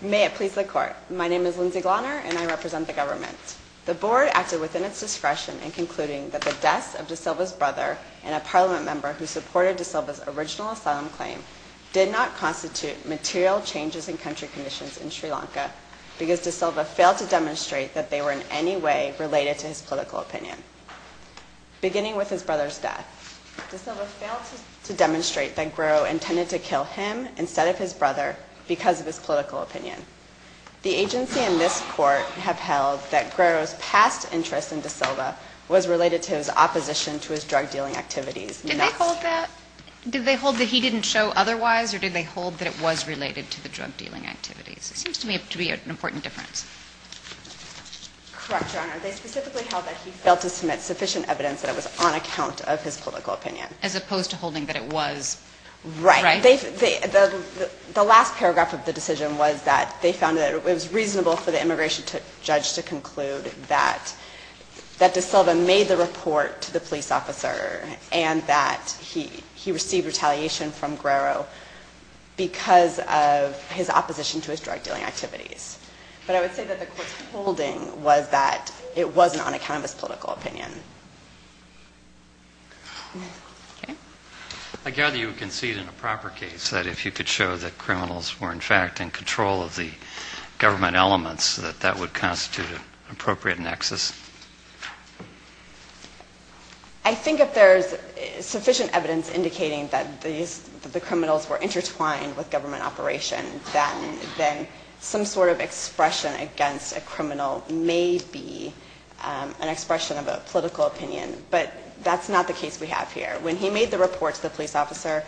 May it please the Court, my name is Lindsay Glahner and I represent the government. The Board acted within its discretion in concluding that the deaths of De Silva's brother and a Parliament member who supported De Silva's original asylum claim did not constitute material changes in country conditions in Sri Lanka because De Silva failed to demonstrate that they were in any way related to his political opinion. Beginning with his brother's death, De Silva failed to demonstrate that Guerrero intended to kill him instead of his brother because of his political opinion. The agency and this Court have held that Guerrero's past interest in De Silva was related to his opposition to his drug-dealing activities. Did they hold that he didn't show otherwise or did they hold that it was related to the drug-dealing activities? It seems to me to be an important difference. Correct, Your Honor. They specifically held that he failed to submit sufficient evidence that it was on account of his political opinion. As opposed to holding that it was, right? The last paragraph of the decision was that they found that it was reasonable for the immigration judge to conclude that De Silva made the report to the police officer and that he received retaliation from Guerrero because of his opposition to his drug-dealing activities. But I would say that the Court's holding was that it wasn't on account of his political opinion. Okay. I gather you concede in a proper case that if you could show that criminals were in fact in control of the government elements that that would constitute an appropriate nexus? I think if there's sufficient evidence indicating that the criminals were intertwined with government operation, then some sort of expression against a criminal may be an expression of a political opinion. But that's not the case we have here. When he made the report to the police officer,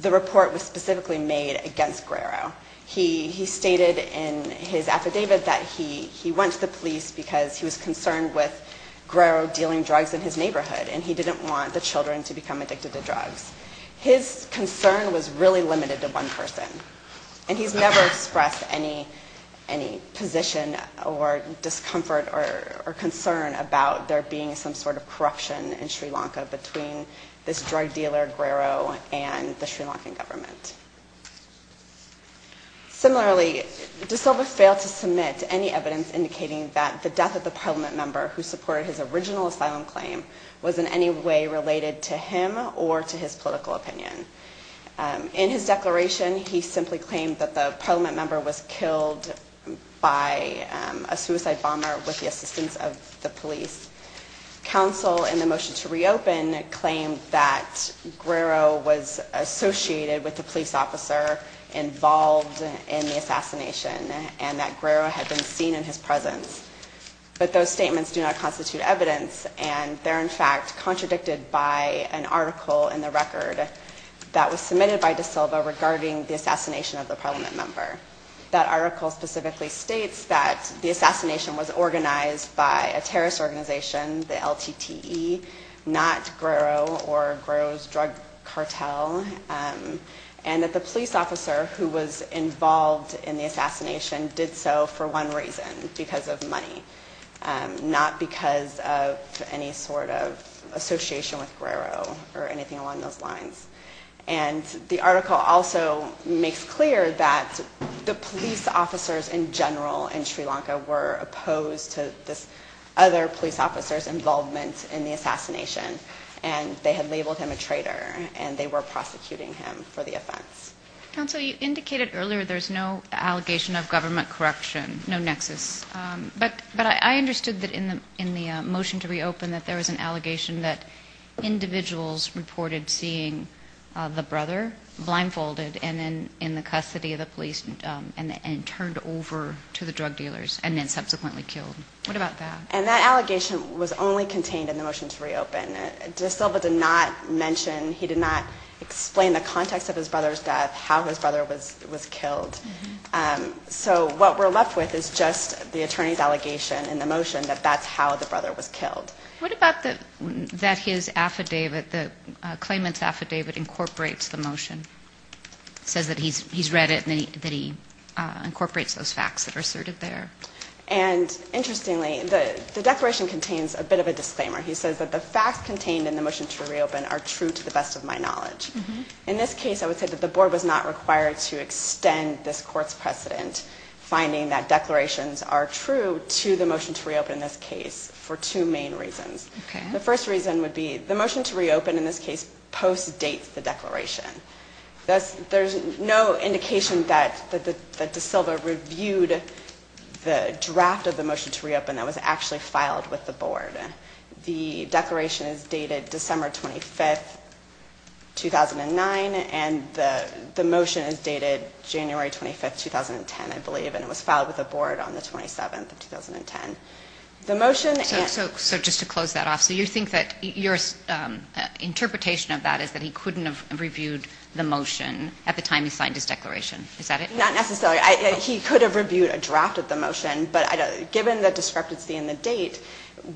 the report was specifically made against Guerrero. He stated in his affidavit that he went to the police because he was concerned with Guerrero dealing drugs in his neighborhood and he didn't want the children to become addicted to drugs. His concern was really limited to one person and he's never expressed any position or discomfort or concern about there being some sort of corruption in Sri Lanka between this drug dealer Guerrero and the Sri Lankan government. Similarly, de Silva failed to submit any evidence indicating that the death of the parliament member who supported his original asylum claim was in any way related to him or to his political opinion. In his declaration, he simply claimed that the parliament member was killed by a suicide bomber with the assistance of the police. Counsel in the motion to reopen claimed that Guerrero was associated with the police officer involved in the assassination and that Guerrero had been seen in his presence. But those statements do not constitute evidence and they're in fact contradicted by an article in the record that was submitted by de Silva regarding the assassination of the parliament member. That article specifically states that the assassination was organized by a terrorist organization, the LTTE, not Guerrero or Guerrero's drug cartel, and that the police officer who was involved in the assassination did so for one reason, because of money, not because of any sort of association with Guerrero or anything along those lines. And the article also makes clear that the police officers in general in Sri Lanka were opposed to this other police officer's involvement in the assassination and they had labeled him a traitor and they were prosecuting him for the offense. Counsel, you indicated earlier there's no allegation of government correction, no nexus, but I understood that in the motion to reopen that there was an allegation that individuals reported seeing the brother blindfolded and then in the custody of the police and turned over to the drug dealers and then subsequently killed. What about that? And that allegation was only contained in the motion to reopen. De Silva did not mention, he did not explain the context of his brother's death, how his brother was killed. So what we're left with is just the attorney's allegation in the motion that that's how the brother was killed. What about that his affidavit, the claimant's affidavit incorporates the motion? Says that he's read it and that he incorporates those facts that are asserted there. And interestingly, the declaration contains a bit of a disclaimer. He says that the facts contained in the motion to reopen are true to the best of my knowledge. In this case, I would say that the board was not required to extend this court's precedent, finding that declarations are true to the motion to reopen in this case for two main reasons. The first reason would be the motion to reopen in this case post-dates the declaration. There's no indication that De Silva reviewed the draft of the motion to reopen that was actually filed with the board. The declaration is dated December 25th, 2009, and the motion is dated January 25th, 2010, I believe. And it was filed with the board on the 27th of 2010. The motion... So just to close that off, so you think that your interpretation of that is that he couldn't have reviewed the motion at the time he signed his declaration, is that it? Not necessarily. He could have reviewed a draft of the motion, but given the discrepancy in the date,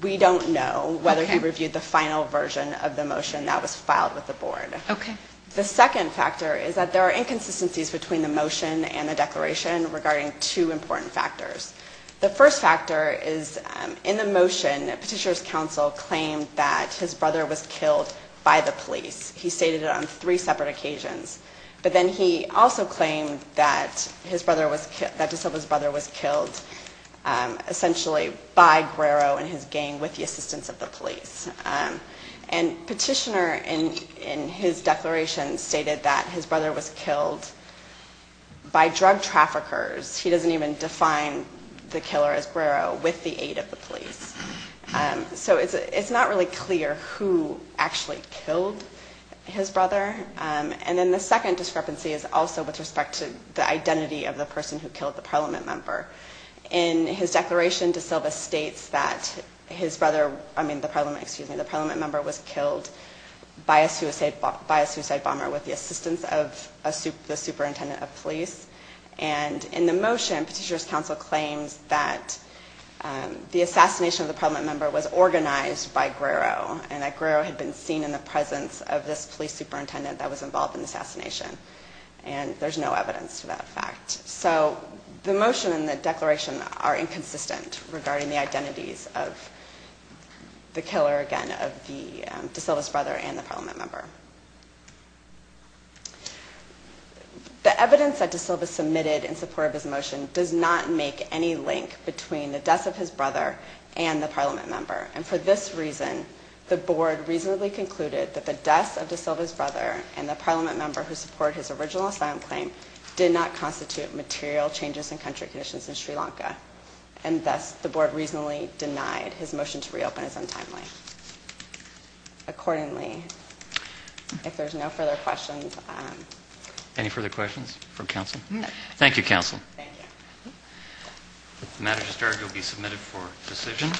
we don't know whether he reviewed the final version of the motion that was filed with the board. Okay. The second factor is that there are inconsistencies between the motion and the declaration regarding two important factors. The first factor is in the motion, Petitioner's Counsel claimed that his brother was killed by the police. He stated it on three separate occasions, but then he also claimed that De Silva's brother was killed essentially by Guerrero and his gang with the assistance of the police. And Petitioner in his declaration stated that his brother was killed by drug traffickers. He doesn't even define the killer as Guerrero with the aid of the police. So it's not really clear who actually killed his brother. And then the second discrepancy is also with respect to the identity of the person who killed the member. In his declaration, De Silva states that his brother, I mean the parliament, excuse me, the parliament member was killed by a suicide bomber with the assistance of the superintendent of police. And in the motion, Petitioner's Counsel claims that the assassination of the parliament member was organized by Guerrero and that Guerrero had been seen in the presence of this police superintendent that was involved in the assassination. And there's no evidence to that fact. So the motion and the declaration are inconsistent regarding the identities of the killer, again, of De Silva's brother and the parliament member. The evidence that De Silva submitted in support of his motion does not make any link between the death of his brother and the parliament member. And for this reason, the board reasonably concluded that the death of De Silva's brother and the parliament member who supported his original assassin claim did not constitute material changes in country conditions in Sri Lanka. And thus, the board reasonably denied his motion to reopen as untimely. Accordingly, if there's no further questions. Any further questions from counsel? Thank you, counsel. Thank you. If the matter is adjourned, you'll be submitted for decision.